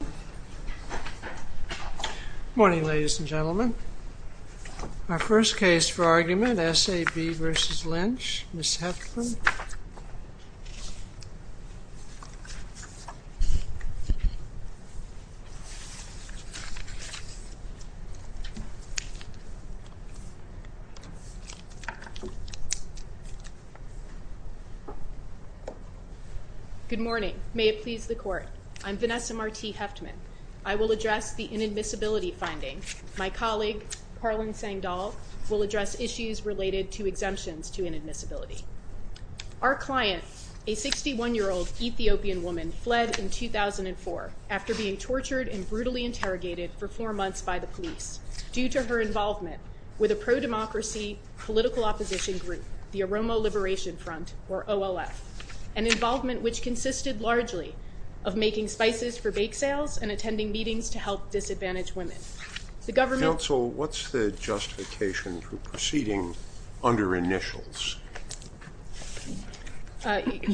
Good morning, ladies and gentlemen. Our first case for argument, S.A.B. v. Lynch, Ms. Heffern. Good morning. May it please the Court. I'm Vanessa Marti Hefftman. I will address the inadmissibility finding. My colleague, Harlan Sengdahl, will address issues related to exemptions to inadmissibility. Our client, a 61-year-old Ethiopian woman, fled in 2004 after being tortured and brutally interrogated for four months by the police due to her involvement with a pro-democracy political opposition group, the Aroma Liberation Front, or OLF, an involvement which consisted largely of making spices for bake sales and attending meetings to help disadvantaged women. The government...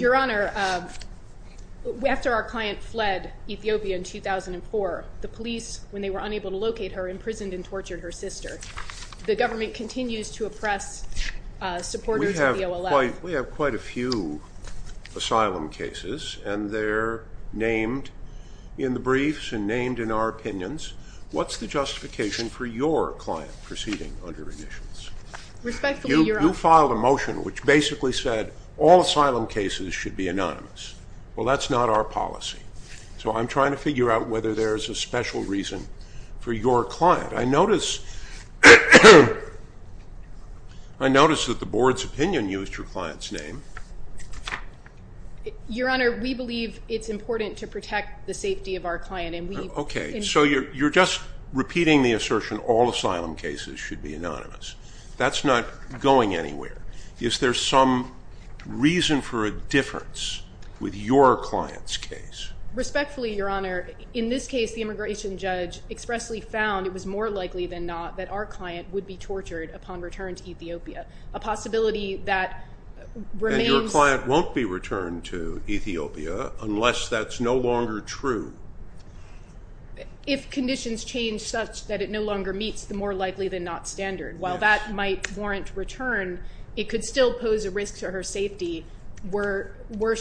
Your Honor, after our client fled Ethiopia in 2004, the police, when they were unable to locate her, imprisoned and tortured her sister. The government continues to oppress supporters of the OLF. We have quite a few asylum cases, and they're named in the briefs and named in our opinions. What's the justification for your client proceeding under admissions? Respectfully, Your Honor... You filed a motion which basically said all asylum cases should be anonymous. Well, that's not our policy. So I'm trying to figure out whether there's a special reason for your client. I notice that the board's opinion used your client's name. Your Honor, we believe it's important to protect the safety of our client and we... Okay, so you're just repeating the assertion all asylum cases should be anonymous. That's not going anywhere. Is there some reason for a difference with your client's case? Respectfully, Your Honor, in this case the immigration judge expressly found it was more likely than not that our client would be tortured upon return to Ethiopia, a possibility that remains... She won't be returned to Ethiopia unless that's no longer true. If conditions change such that it no longer meets the more likely than not standard. While that might warrant return, it could still pose a risk to her safety were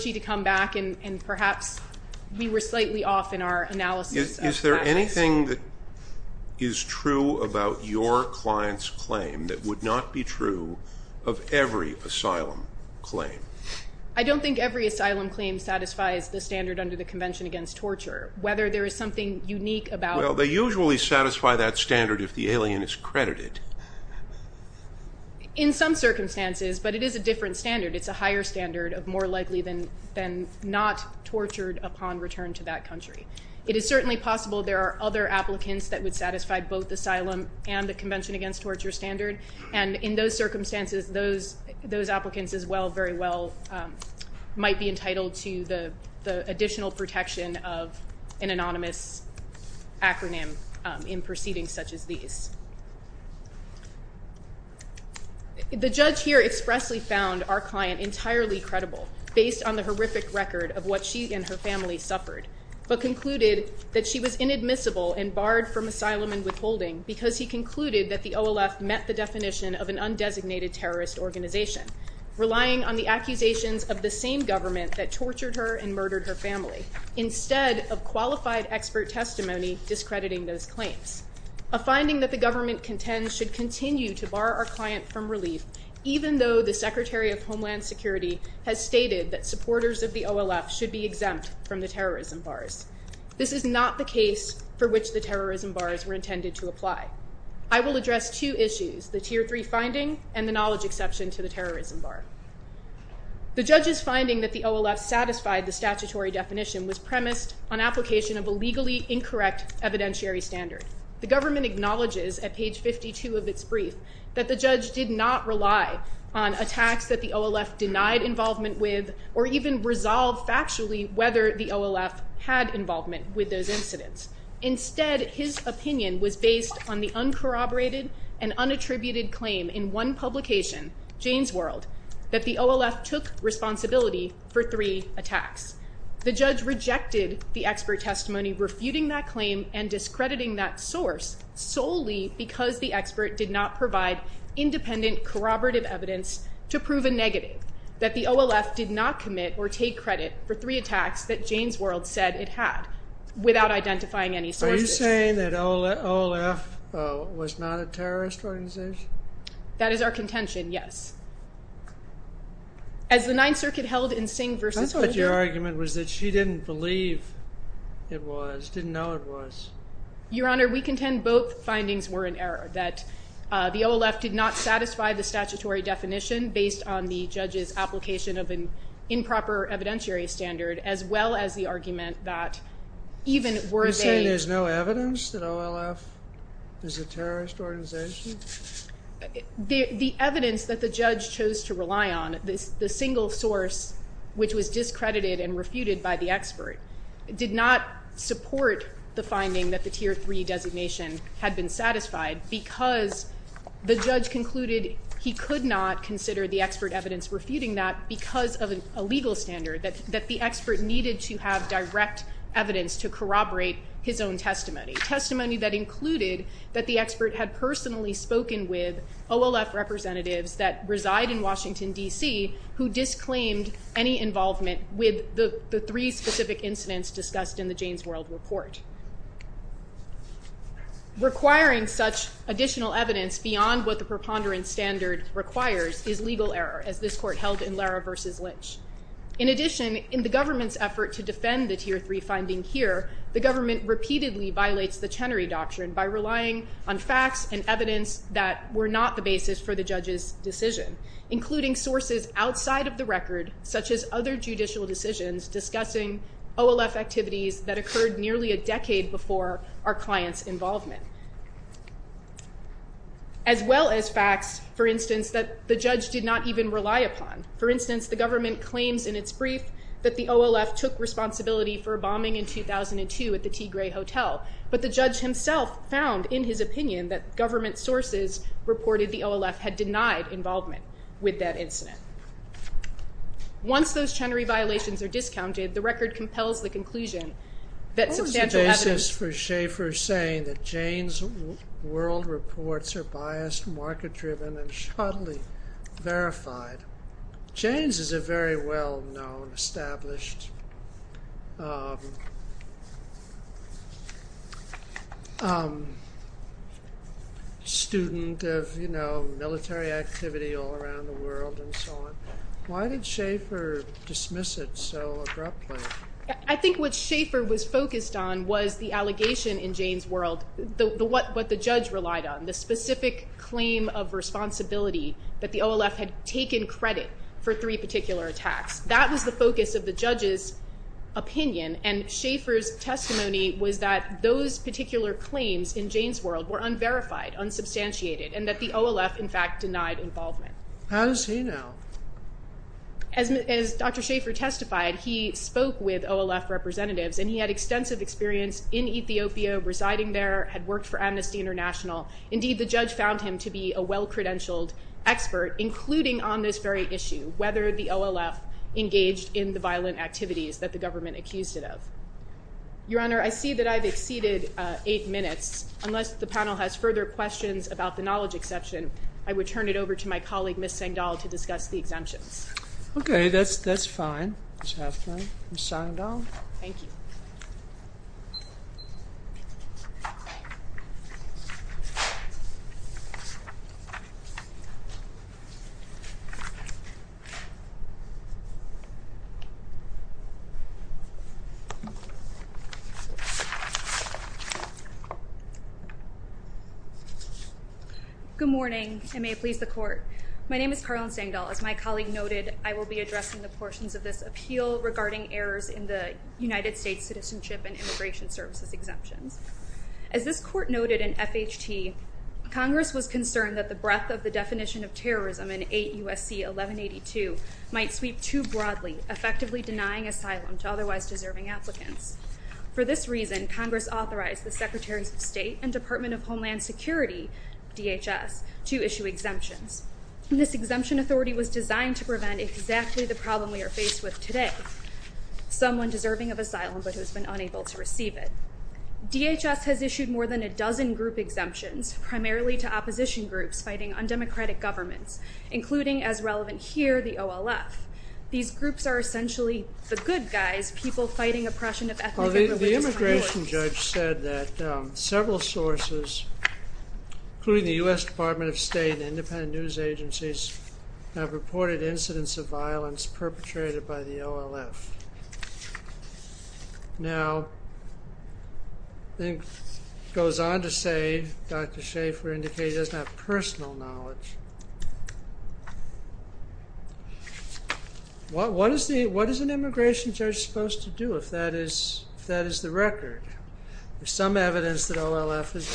she to come back and perhaps we were slightly off in our analysis of practice. Is there anything that is true about your client's claim that would not be true of every asylum claim? I don't think every asylum claim satisfies the standard under the Convention Against Torture. Whether there is something unique about... Well, they usually satisfy that standard if the alien is credited. In some circumstances, but it is a different standard. It's a higher standard of more likely than not tortured upon return to that country. It is certainly possible there are other applicants that would satisfy both asylum and the Convention Against Torture standard, and in those circumstances, those applicants as well very well might be entitled to the additional protection of an anonymous acronym in proceedings such as these. The judge here expressly found our client entirely credible based on the horrific record of what she and her family suffered, but concluded that she was inadmissible and barred from asylum and withholding because he concluded that the OLF met the definition of an undesignated terrorist organization, relying on the accusations of the same government that tortured her and murdered her family instead of qualified expert testimony discrediting those claims. A finding that the government contends should continue to bar our client from relief, even though the Secretary of Homeland Security has stated that supporters of the OLF should be exempt from the terrorism bars. This is not the case for which the terrorism bars were intended to apply. I will address two issues, the Tier 3 finding and the knowledge exception to the terrorism bar. The judge's finding that the OLF satisfied the statutory definition was premised on application of a legally incorrect evidentiary standard. The government acknowledges at page 52 of its brief that the judge did not rely on attacks that the OLF denied involvement with or even resolved factually whether the OLF had involvement with those incidents. Instead, his opinion was based on the uncorroborated and unattributed claim in one publication, Jane's World, that the OLF took responsibility for three attacks. The judge rejected the expert testimony refuting that claim and discrediting that source solely because the expert did not provide independent corroborative evidence to prove a negative, that the OLF did not commit or take credit for three attacks that Jane's World said it had without identifying any sources. Are you saying that OLF was not a terrorist organization? That is our contention, yes. As the Ninth Circuit held in Singh v. O'Neill... I thought your argument was that she didn't believe it was, didn't know it was. Your Honor, we contend both findings were in error, that the OLF did not satisfy the statutory definition based on the judge's application of an improper evidentiary standard as well as the argument that even were they... You're saying there's no evidence that OLF is a terrorist organization? The evidence that the judge chose to rely on, the single source which was discredited and refuted by the expert, did not support the finding that the tier three designation had been satisfied because the judge concluded he could not consider the expert evidence refuting that because of a legal standard, that the expert needed to have direct evidence to corroborate his own testimony. Testimony that included that the expert had personally spoken with OLF representatives that reside in Washington, D.C. who disclaimed any involvement with the three specific incidents discussed in the Jane's World report. Requiring such additional evidence beyond what the preponderance standard requires is legal error, as this court held in Lara v. Lynch. In addition, in the government's effort to defend the tier three finding here, the government repeatedly violates the Chenery Doctrine by relying on facts and evidence that were not the basis for the judge's decision, including sources outside of the record such as other judicial decisions discussing OLF activities that occurred nearly a decade before our client's involvement. As well as facts, for instance, that the judge did not even rely upon. For instance, the government claims in its brief that the OLF took responsibility for a bombing in 2002 at the Tigray Hotel, but the judge himself found in his opinion that government sources reported the OLF had denied involvement with that incident. Once those Chenery violations are discounted, the record compels the conclusion that substantial evidence... What was the basis for Schaeffer saying that Jane's World reports are biased, market-driven, and shoddily verified? Jane's is a very well-known, established... student of military activity all around the world and so on. Why did Schaeffer dismiss it so abruptly? I think what Schaeffer was focused on was the allegation in Jane's World, what the judge relied on, the specific claim of responsibility that the OLF had taken credit for three particular attacks. That was the focus of the judge's opinion and Schaeffer's testimony was that those particular claims in Jane's World were unverified, unsubstantiated, and that the OLF, in fact, denied involvement. How does he know? As Dr. Schaeffer testified, he spoke with OLF representatives and he had extensive experience in Ethiopia, residing there, had worked for Amnesty International. Indeed, the judge found him to be a well-credentialed expert, including on this very issue, whether the OLF engaged in the violent activities that the government accused it of. Your Honor, I see that I've exceeded eight minutes. Unless the panel has further questions about the knowledge exception, I would turn it over to my colleague, Ms. Sengdahl, to discuss the exemptions. Okay, that's fine. Ms. Sengdahl. Thank you. Thank you. Good morning, and may it please the Court. My name is Karlyn Sengdahl. As my colleague noted, I will be addressing the portions of this appeal regarding errors in the United States citizenship and immigration services exemptions. As this Court noted in FHT, Congress was concerned that the breadth of the definition of terrorism in 8 U.S.C. 1182 might sweep too broadly, effectively denying asylum to otherwise deserving applicants. For this reason, Congress authorized the Secretaries of State and Department of Homeland Security, DHS, to issue exemptions. This exemption authority was designed to prevent exactly the problem we are faced with today, someone deserving of asylum but who has been unable to receive it. DHS has issued more than a dozen group exemptions, primarily to opposition groups fighting undemocratic governments, including, as relevant here, the OLF. These groups are essentially the good guys, people fighting oppression of ethnic and religious minorities. The immigration judge said that several sources, including the U.S. Department of State and independent news agencies, have reported incidents of violence perpetrated by the OLF. Now, it goes on to say, Dr. Schaefer indicates he doesn't have personal knowledge. What is an immigration judge supposed to do if that is the record? There's some evidence that OLF is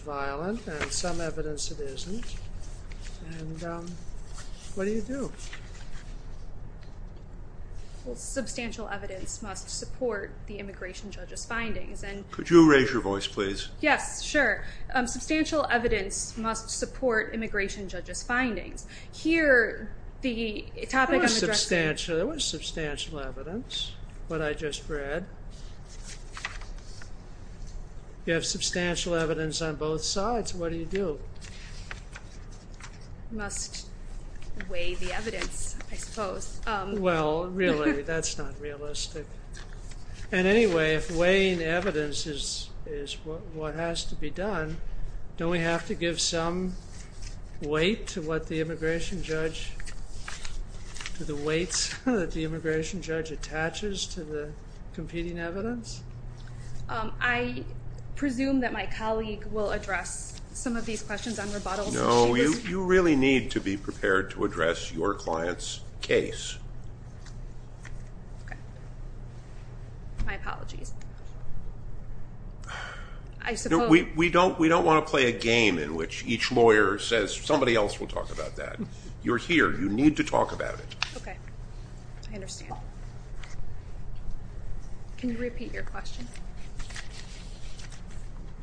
violent, and some evidence it isn't. What do you do? Substantial evidence must support the immigration judge's findings. Could you raise your voice, please? Yes, sure. Substantial evidence must support immigration judge's findings. Here, the topic I'm addressing... There was substantial evidence, what I just read. You have substantial evidence on both sides. What do you do? You must weigh the evidence, I suppose. Well, really, that's not realistic. And anyway, if weighing evidence is what has to be done, don't we have to give some weight to what the immigration judge... to the weights that the immigration judge attaches to the competing evidence? I presume that my colleague will address some of these questions on rebuttals. No, you really need to be prepared to address your client's case. Okay. My apologies. I suppose... We don't want to play a game in which each lawyer says, somebody else will talk about that. You're here. You need to talk about it. Okay. I understand. Okay. Can you repeat your question?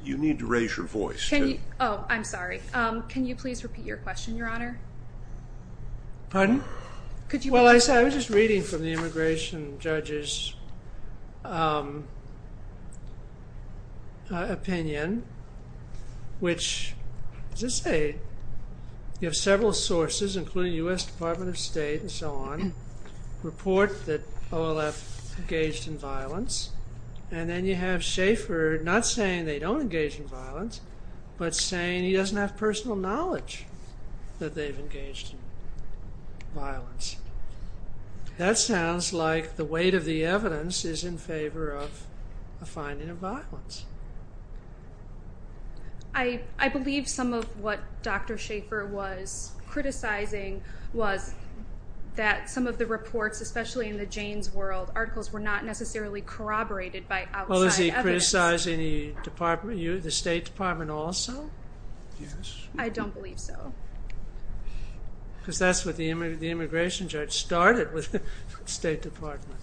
You need to raise your voice. Can you... Oh, I'm sorry. Can you please repeat your question, Your Honor? Pardon? Could you... Well, I was just reading from the immigration judge's opinion, which, as I say, you have several sources, including U.S. Department of State and so on, report that OLF engaged in violence, and then you have Schaefer not saying they don't engage in violence, but saying he doesn't have personal knowledge that they've engaged in violence. That sounds like the weight of the evidence is in favor of a finding of violence. I believe some of what Dr. Schaefer was criticizing was that some of the reports, especially in the Janes world, articles were not necessarily corroborated by outside evidence. Was he criticizing the State Department also? Yes. I don't believe so. Because that's what the immigration judge started with, the State Department.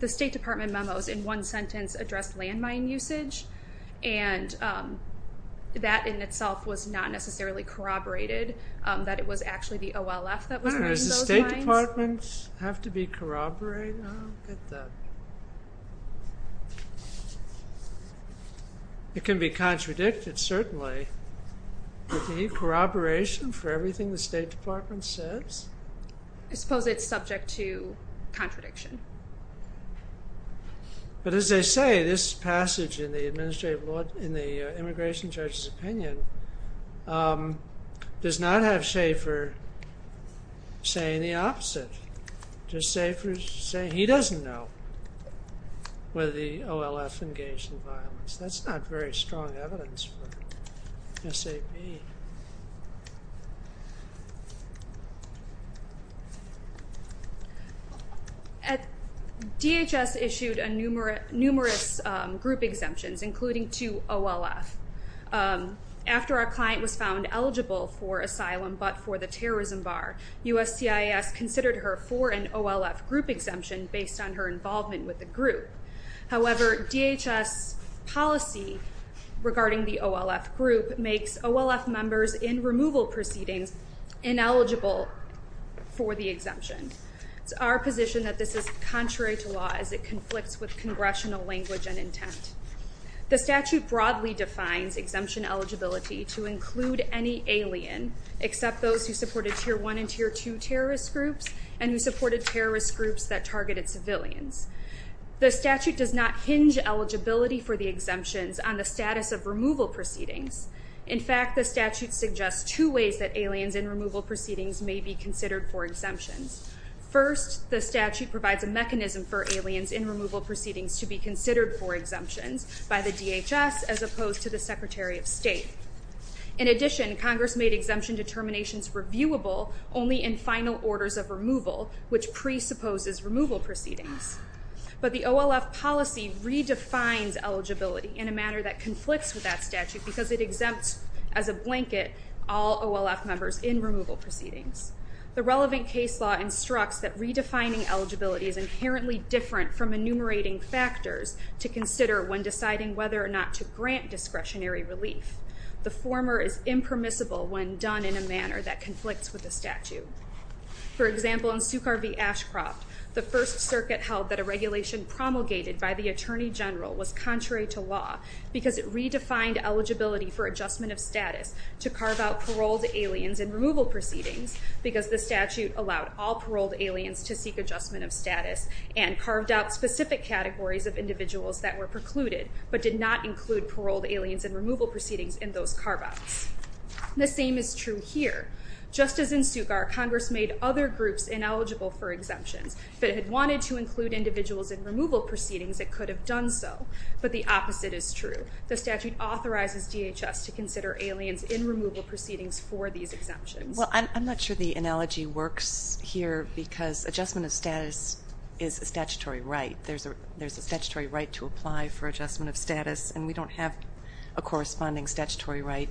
The State Department memos, in one sentence, addressed landmine usage, and that in itself was not necessarily corroborated, that it was actually the OLF that was using those lines. Does the State Department have to be corroborated? I don't get that. It can be contradicted, certainly. But any corroboration for everything the State Department says? I suppose it's subject to contradiction. But as they say, this passage in the immigration judge's opinion does not have Schaefer saying the opposite. He doesn't know whether the OLF engaged in violence. That's not very strong evidence for SAP. Okay. DHS issued numerous group exemptions, including to OLF. After our client was found eligible for asylum but for the terrorism bar, USCIS considered her for an OLF group exemption based on her involvement with the group. However, DHS policy regarding the OLF group makes OLF members in removal proceedings ineligible for the exemption. It's our position that this is contrary to law as it conflicts with congressional language and intent. The statute broadly defines exemption eligibility to include any alien, except those who supported Tier 1 and Tier 2 terrorist groups and who supported terrorist groups that targeted civilians. The statute does not hinge eligibility for the exemptions on the status of removal proceedings. In fact, the statute suggests two ways that aliens in removal proceedings may be considered for exemptions. First, the statute provides a mechanism for aliens in removal proceedings to be considered for exemptions by the DHS as opposed to the Secretary of State. In addition, Congress made exemption determinations reviewable only in final orders of removal, which presupposes removal proceedings. But the OLF policy redefines eligibility in a manner that conflicts with that statute because it exempts as a blanket all OLF members in removal proceedings. The relevant case law instructs that redefining eligibility is inherently different from enumerating factors to consider when deciding whether or not to grant discretionary relief. The former is impermissible when done in a manner that conflicts with the statute. For example, in Sukhar V. Ashcroft, the First Circuit held that a regulation promulgated by the Attorney General was contrary to law because it redefined eligibility for adjustment of status to carve out paroled aliens in removal proceedings because the statute allowed all paroled aliens to seek adjustment of status and carved out specific categories of individuals that were precluded but did not include paroled aliens in removal proceedings in those carve-outs. The same is true here. Just as in Sukhar, Congress made other groups ineligible for exemptions. If it had wanted to include individuals in removal proceedings, it could have done so. But the opposite is true. The statute authorizes DHS to consider aliens in removal proceedings for these exemptions. Well, I'm not sure the analogy works here because adjustment of status is a statutory right. There's a statutory right to apply for adjustment of status, and we don't have a corresponding statutory right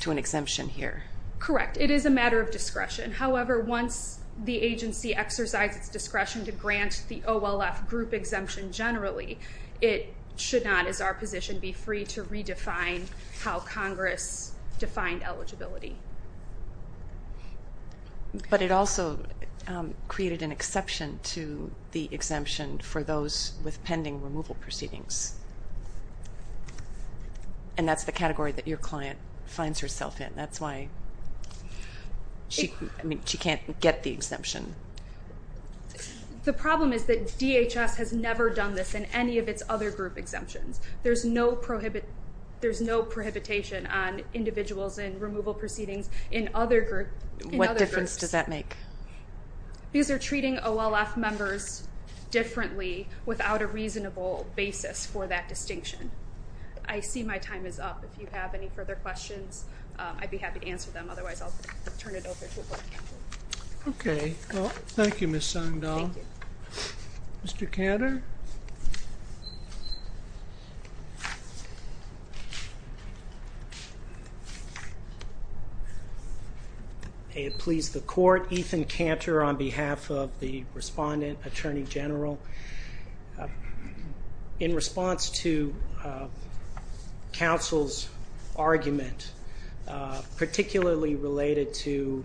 to an exemption here. Correct. It is a matter of discretion. However, once the agency exercises discretion to grant the OLF group exemption generally, it should not, as our position, be free to redefine how Congress defined eligibility. But it also created an exception to the exemption for those with pending removal proceedings. And that's the category that your client finds herself in. That's why she can't get the exemption. The problem is that DHS has never done this in any of its other group exemptions. There's no prohibition on individuals in removal proceedings in other groups. What difference does that make? These are treating OLF members differently without a reasonable basis for that distinction. I see my time is up. If you have any further questions, I'd be happy to answer them. Otherwise, I'll turn it over to the Court of Counsel. Okay. Well, thank you, Ms. Sundahl. Thank you. Mr. Cantor? May it please the Court, Ethan Cantor on behalf of the respondent, Attorney General. In response to counsel's argument, particularly related to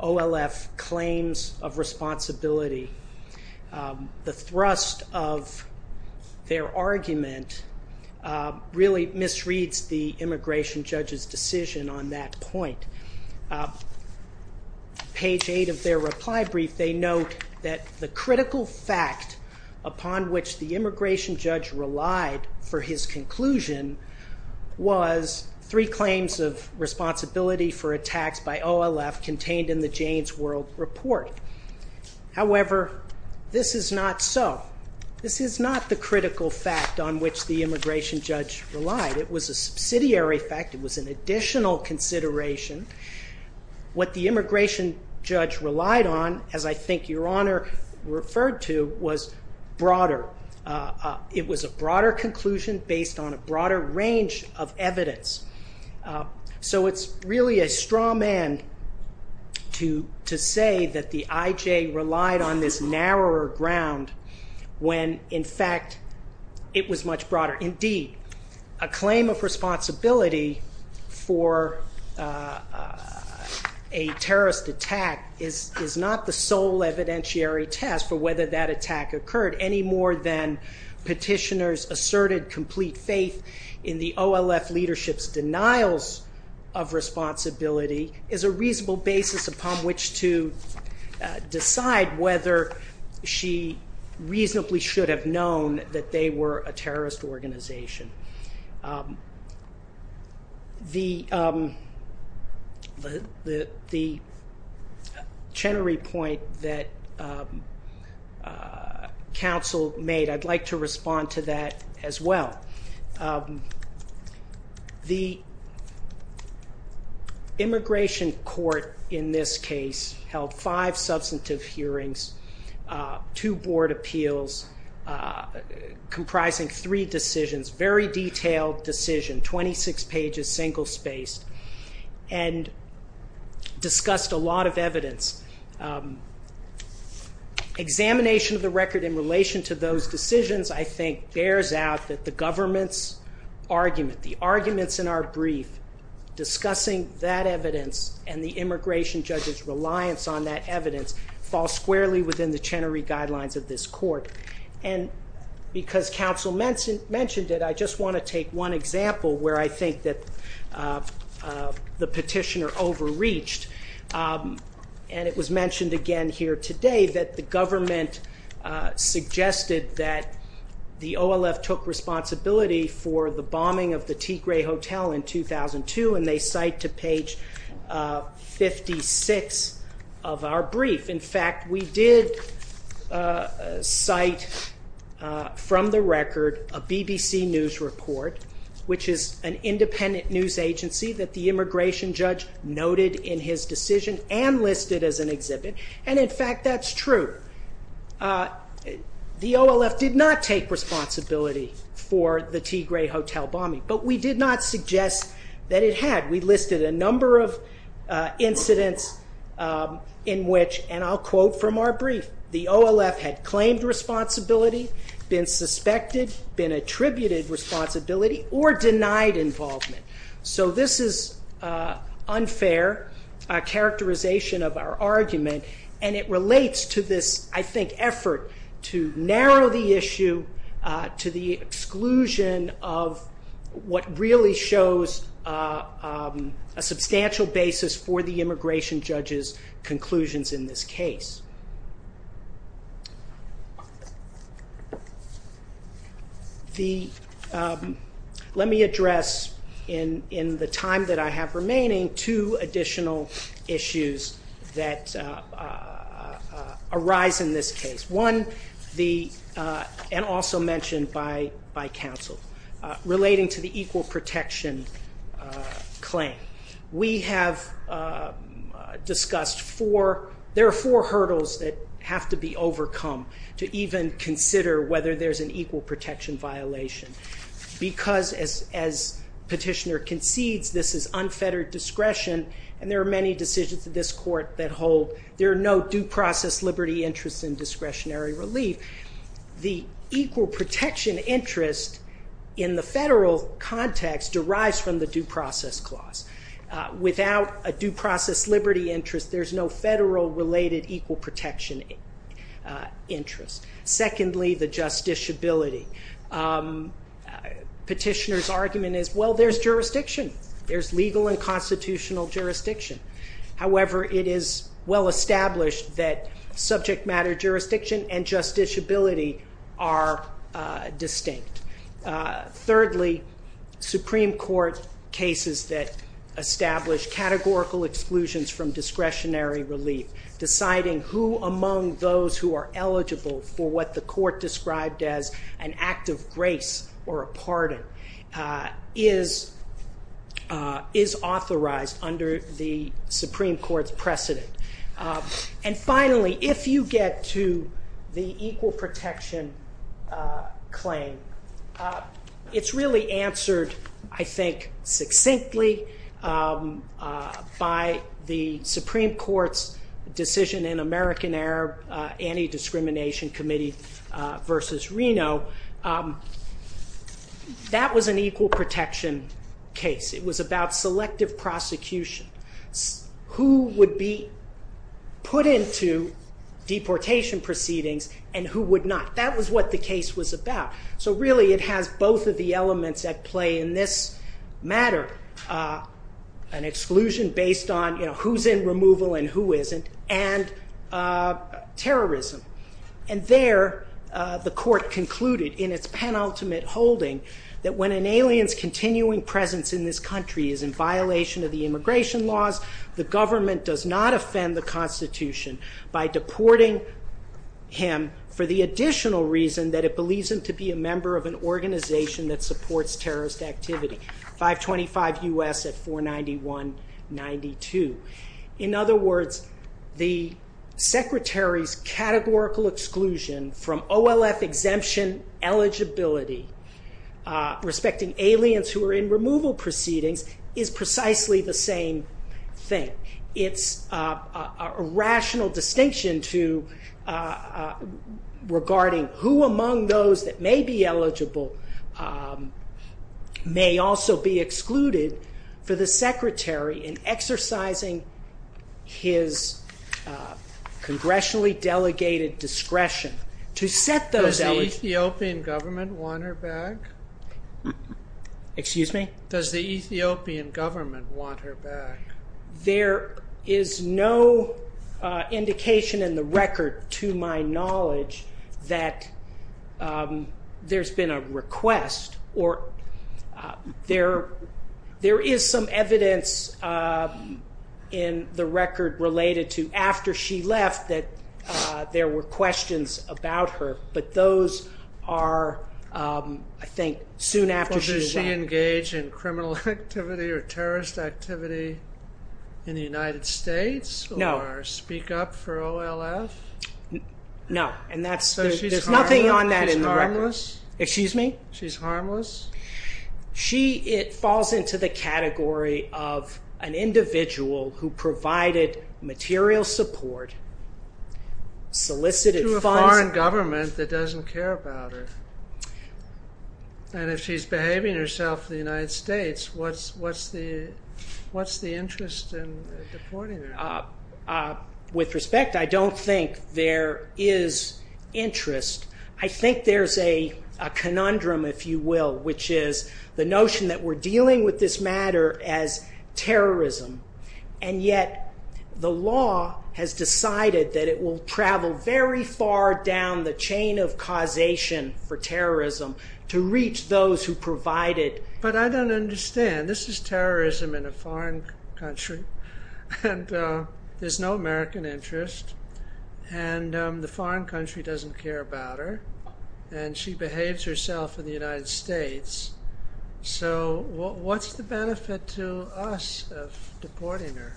OLF claims of responsibility, the thrust of their argument really misreads the immigration judge's decision on that point. Page 8 of their reply brief, they note that the critical fact upon which the immigration judge relied for his conclusion was three claims of responsibility for attacks by OLF contained in the Jane's World Report. However, this is not so. This is not the critical fact on which the immigration judge relied. It was a subsidiary fact. It was an additional consideration. What the immigration judge relied on, as I think your Honor referred to, was broader. It was a broader conclusion based on a broader range of evidence. So it's really a straw man to say that the IJ relied on this narrower ground when, in fact, it was much broader. Indeed, a claim of responsibility for a terrorist attack is not the sole evidentiary test for whether that attack occurred any more than petitioner's asserted complete faith in the OLF leadership's denials of responsibility is a reasonable basis upon which to decide whether she reasonably should have known that they were a terrorist organization. The Chenery point that counsel made, I'd like to respond to that as well. The immigration court in this case held five substantive hearings, two board appeals comprising three decisions, very detailed decision, 26 pages, single-spaced, and discussed a lot of evidence. Examination of the record in relation to those decisions, I think, bears out that the government's argument, the arguments in our brief discussing that evidence and the immigration judge's reliance on that evidence fall squarely within the Chenery guidelines of this court. And because counsel mentioned it, I just want to take one example where I think that the petitioner overreached. And it was mentioned again here today that the government suggested that the OLF took responsibility for the bombing of the Tigray Hotel in 2002, and they cite to page 56 of our brief. In fact, we did cite from the record a BBC News report, which is an independent news agency that the immigration judge noted in his decision and listed as an exhibit. And in fact, that's true. The OLF did not take responsibility for the Tigray Hotel bombing, but we did not suggest that it had. We listed a number of incidents in which, and I'll quote from our brief, the OLF had claimed responsibility, been suspected, been attributed responsibility, or denied involvement. So this is unfair characterization of our argument, and it relates to this, I think, effort to narrow the issue to the exclusion of what really shows a substantial basis for the immigration judge's conclusions in this case. Let me address, in the time that I have remaining, two additional issues that arise in this case. One, and also mentioned by counsel, relating to the equal protection claim. We have discussed four, there are four hurdles that have to be overcome to even consider whether there's an equal protection violation. Because, as petitioner concedes, this is unfettered discretion, and there are many decisions in this court that hold there are no due process liberty interests in discretionary relief. The equal protection interest in the federal context derives from the due process clause. Without a due process liberty interest, there's no federal related equal protection interest. Secondly, the justiciability. Petitioner's argument is, well, there's jurisdiction. There's legal and constitutional jurisdiction. However, it is well established that subject matter jurisdiction and justiciability are distinct. Thirdly, Supreme Court cases that establish categorical exclusions from discretionary relief, deciding who among those who are eligible for what the court described as an act of grace or a pardon, is authorized under the Supreme Court's precedent. And finally, if you get to the equal protection claim, it's really answered, I think, succinctly by the Supreme Court's decision in American-Arab Anti-Discrimination Committee v. Reno. That was an equal protection case. It was about selective prosecution. Who would be put into deportation proceedings and who would not? That was what the case was about. So really, it has both of the elements at play in this matter. An exclusion based on who's in removal and who isn't, and terrorism. And there, the court concluded in its penultimate holding, that when an alien's continuing presence in this country is in violation of the immigration laws, the government does not offend the Constitution by deporting him for the additional reason that it believes him to be a member of an organization that supports terrorist activity. 525 U.S. at 491-92. In other words, the Secretary's categorical exclusion from OLF exemption eligibility, respecting aliens who are in removal proceedings, is precisely the same thing. It's a rational distinction regarding who among those that may be eligible may also be excluded for the Secretary in exercising his congressionally delegated discretion. Does the Ethiopian government want her back? There is no indication in the record, to my knowledge, that there's been a request, or there is some evidence in the record related to after she left that there were questions about her. But those are, I think, soon after she left. So does she engage in criminal activity or terrorist activity in the United States? No. Or speak up for OLF? No, and there's nothing on that in the record. So she's harmless? Excuse me? She's harmless? It falls into the category of an individual who provided material support, solicited funds. To a foreign government that doesn't care about her. And if she's behaving herself in the United States, what's the interest in deporting her? With respect, I don't think there is interest. I think there's a conundrum, if you will, which is the notion that we're dealing with this matter as terrorism. And yet the law has decided that it will travel very far down the chain of causation for terrorism to reach those who provide it. But I don't understand. This is terrorism in a foreign country. And there's no American interest. And the foreign country doesn't care about her. And she behaves herself in the United States. So what's the benefit to us of deporting her?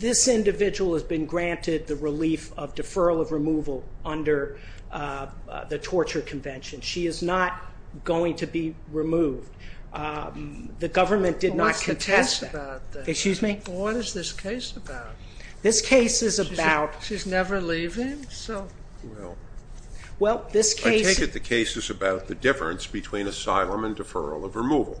This individual has been granted the relief of deferral of removal under the torture convention. She is not going to be removed. The government did not contest that. Excuse me? What is this case about? This case is about... She's never leaving? Well, I take it the case is about the difference between asylum and deferral of removal.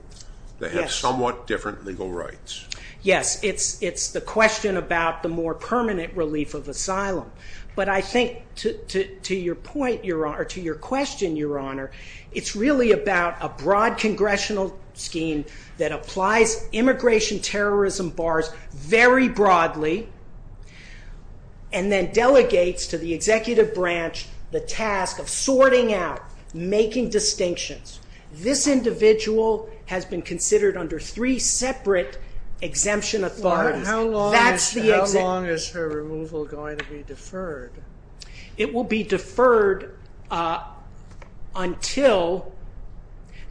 They have somewhat different legal rights. Yes, it's the question about the more permanent relief of asylum. But I think to your question, Your Honor, it's really about a broad congressional scheme that applies immigration terrorism bars very broadly and then delegates to the executive branch the task of sorting out, making distinctions. This individual has been considered under three separate exemption authorities. How long is her removal going to be deferred? It will be deferred until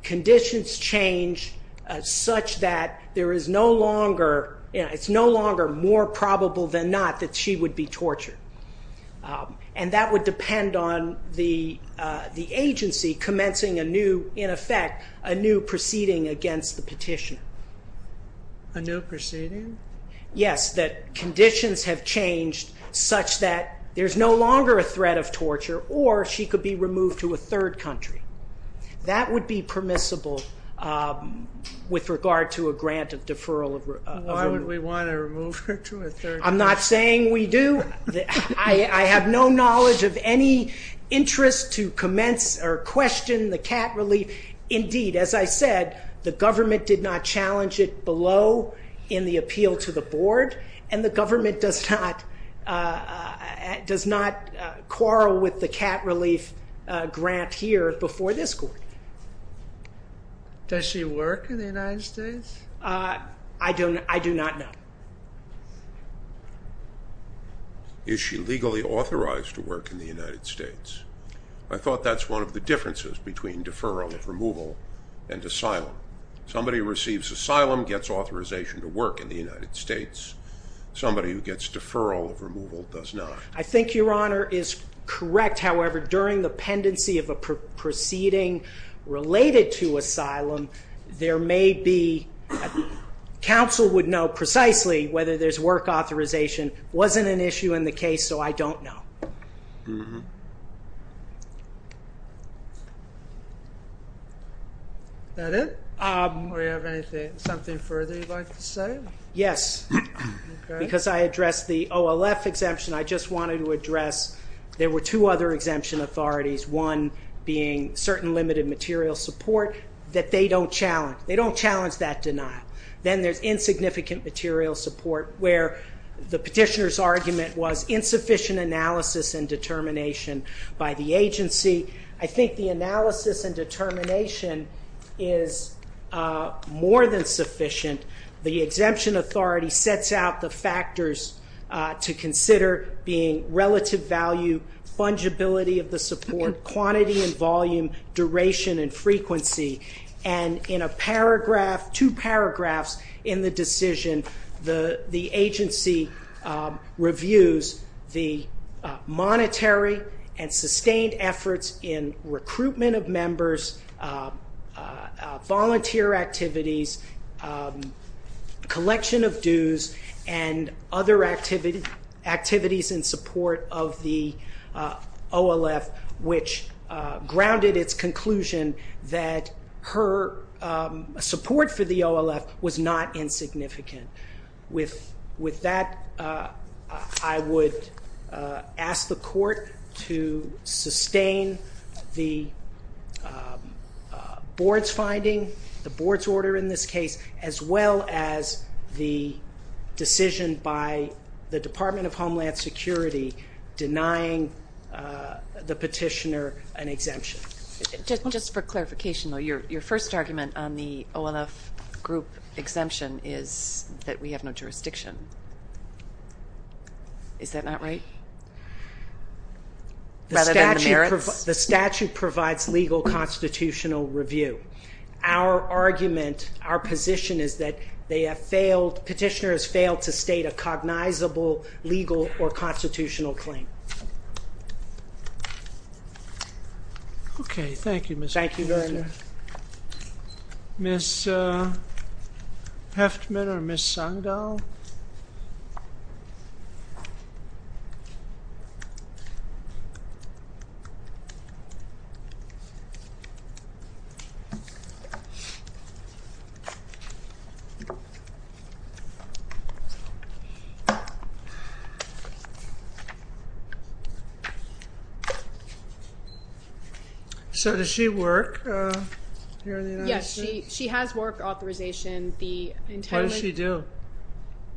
conditions change such that there is no longer... It's no longer more probable than not that she would be tortured. And that would depend on the agency commencing a new, in effect, a new proceeding against the petition. A new proceeding? Yes, that conditions have changed such that there's no longer a threat of torture or she could be removed to a third country. That would be permissible with regard to a grant of deferral of... Why would we want to remove her to a third country? I'm not saying we do. I have no knowledge of any interest to commence or question the CAT relief. Indeed, as I said, the government did not challenge it below in the appeal to the board and the government does not quarrel with the CAT relief grant here before this court. Does she work in the United States? I do not know. Is she legally authorized to work in the United States? I thought that's one of the differences between deferral of removal and asylum. Somebody who receives asylum gets authorization to work in the United States. Somebody who gets deferral of removal does not. I think Your Honor is correct. However, during the pendency of a proceeding related to asylum, there may be... Counsel would know precisely whether there's work authorization. It wasn't an issue in the case, so I don't know. Mm-hmm. That it? Do we have something further you'd like to say? Yes. Because I addressed the OLF exemption, I just wanted to address there were two other exemption authorities, one being certain limited material support that they don't challenge. They don't challenge that denial. Then there's insignificant material support where the petitioner's argument was insufficient analysis and determination by the agency. I think the analysis and determination is more than sufficient. The exemption authority sets out the factors to consider being relative value, fungibility of the support, quantity and volume, duration and frequency. In a paragraph, two paragraphs in the decision, the agency reviews the monetary and sustained efforts in recruitment of members, volunteer activities, collection of dues and other activities in support of the OLF, which grounded its conclusion that her support for the OLF was not insignificant. With that, I would ask the court to sustain the board's finding, the board's order in this case, as well as the decision by the Department of Homeland Security denying the petitioner an exemption. Just for clarification, your first argument on the OLF group exemption is that we have no jurisdiction. Is that not right? The statute provides legal constitutional review. Our argument, our position is that they have failed, petitioner has failed to state a cognizable legal or constitutional claim. Okay. Thank you, Mr. President. Thank you very much. Ms. Hefftman or Ms. Sando? So does she work here in the United States? Yes, she has work authorization. What does she do?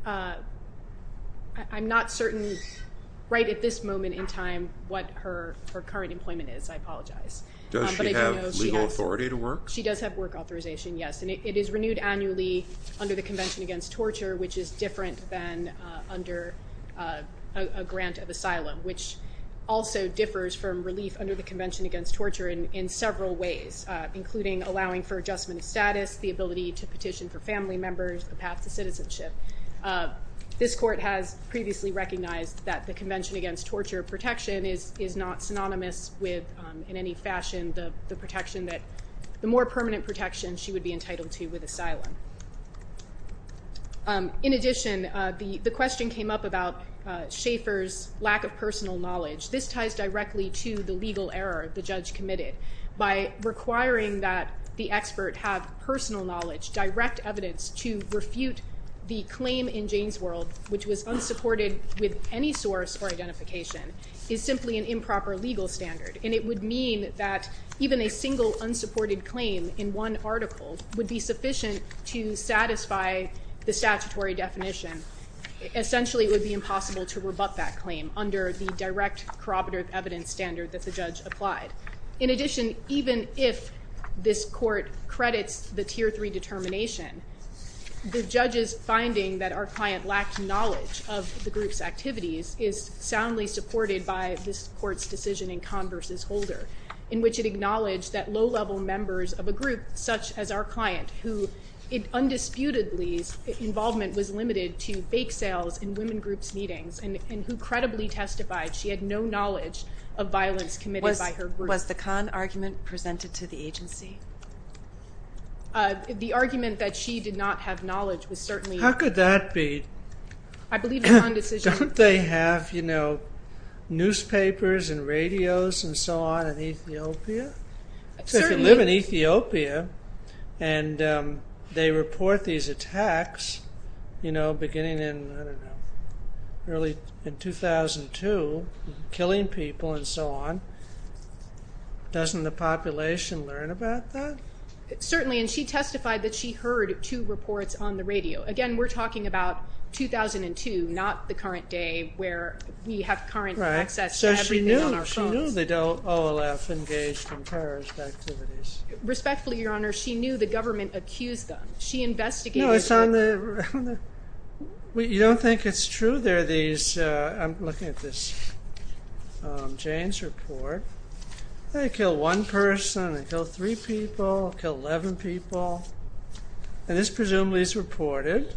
I'm not certain right at this moment in time what her current employment is. I apologize. Does she have legal authority to work? She does have work authorization, yes. And it is renewed annually under the Convention Against Torture, which is different than under a grant of asylum, which also differs from relief under the Convention Against Torture in several ways, including allowing for adjustment of status, the ability to petition for family members, the path to citizenship. This court has previously recognized that the Convention Against Torture protection is not synonymous with, in any fashion, the protection that the more permanent protection she would be entitled to with asylum. In addition, the question came up about Schaeffer's lack of personal knowledge. This ties directly to the legal error the judge committed by requiring that the expert have personal knowledge, direct evidence to refute the claim in Jane's world, which was unsupported with any source or identification, is simply an improper legal standard. And it would mean that even a single unsupported claim in one article would be sufficient to satisfy the statutory definition. Essentially, it would be impossible to rebut that claim under the direct corroborative evidence standard that the judge applied. In addition, even if this court credits the Tier 3 determination, the judge's finding that our client lacked knowledge of the group's activities is soundly supported by this court's decision in Kahn v. Holder, in which it acknowledged that low-level members of a group such as our client, who undisputedly's involvement was limited to bake sales and women groups meetings, and who credibly testified she had no knowledge of violence committed by her group. Was the Kahn argument presented to the agency? The argument that she did not have knowledge was certainly... How could that be? I believe the Kahn decision... Don't they have, you know, newspapers and radios and so on in Ethiopia? Certainly... If you live in Ethiopia and they report these attacks, you know, beginning in, I don't know, early in 2002, killing people and so on, doesn't the population learn about that? Certainly, and she testified that she heard two reports on the radio. Again, we're talking about 2002, not the current day where we have current access to everything on our phones. Right, so she knew the OLF engaged in terrorist activities. Respectfully, Your Honor, she knew the government accused them. She investigated... No, it's on the... You don't think it's true there are these... I'm looking at this Jane's report. They killed one person, they killed three people, killed 11 people. And this presumably is reported.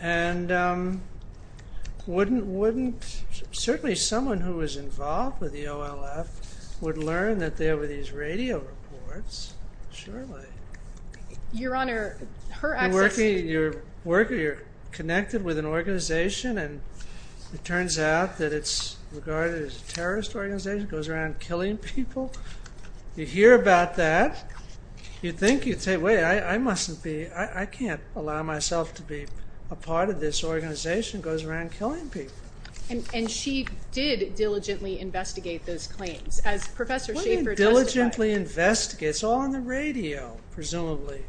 And wouldn't... Certainly someone who was involved with the OLF would learn that there were these radio reports. Surely. Your Honor, her access... You're working, you're connected with an organization and it turns out that it's regarded as a terrorist organization, goes around killing people. You hear about that. You think you'd say, wait, I mustn't be, I can't allow myself to be a part of this organization, goes around killing people. And she did diligently investigate those claims, as Professor Schaefer testified. What do you mean diligently investigate? It's all on the radio, presumably.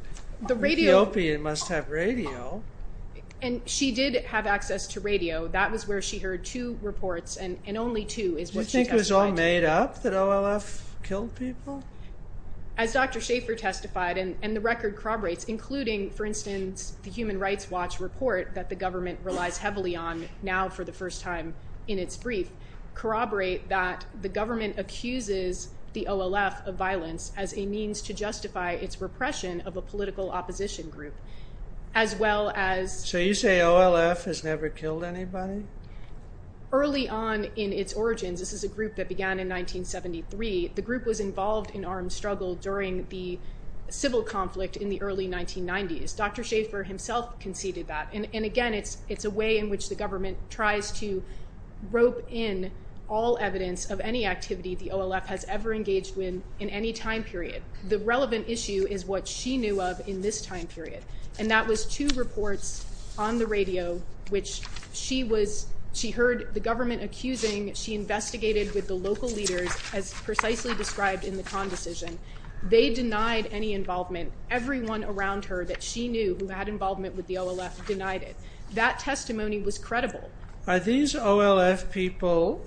Ethiopia must have radio. And she did have access to radio. That was where she heard two reports and only two is what she testified to. Do you think it was all made up that OLF killed people? As Dr. Schaefer testified and the record corroborates, including, for instance, the Human Rights Watch report that the government relies heavily on now for the first time in its brief, corroborate that the government accuses the OLF of violence as a means to justify its repression of a political opposition group, as well as- So you say OLF has never killed anybody? Early on in its origins, this is a group that began in 1973, the group was involved in armed struggle during the civil conflict in the early 1990s. Dr. Schaefer himself conceded that. And again, it's a way in which the government tries to rope in all evidence of any activity the OLF has ever engaged in in any time period. The relevant issue is what she knew of in this time period. And that was two reports on the radio which she was- she heard the government accusing, she investigated with the local leaders, as precisely described in the con decision. They denied any involvement. Everyone around her that she knew who had involvement with the OLF denied it. That testimony was credible. Are these OLF people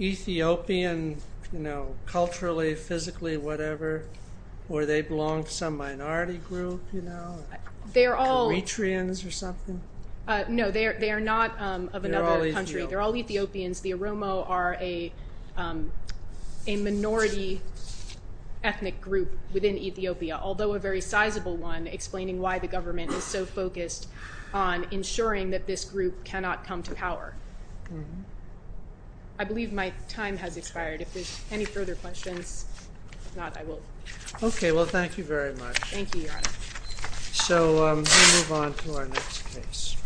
Ethiopian, you know, culturally, physically, whatever, or they belong to some minority group, you know? They're all- Eritreans or something? No, they are not of another country. They're all Ethiopians. They're all Ethiopians. The Oromo are a minority ethnic group within Ethiopia, although a very sizable one, explaining why the government is so focused on ensuring that this group cannot come to power. I believe my time has expired. If there's any further questions, if not, I will- Okay. Well, thank you very much. Thank you, Your Honor. So we move on to our next case.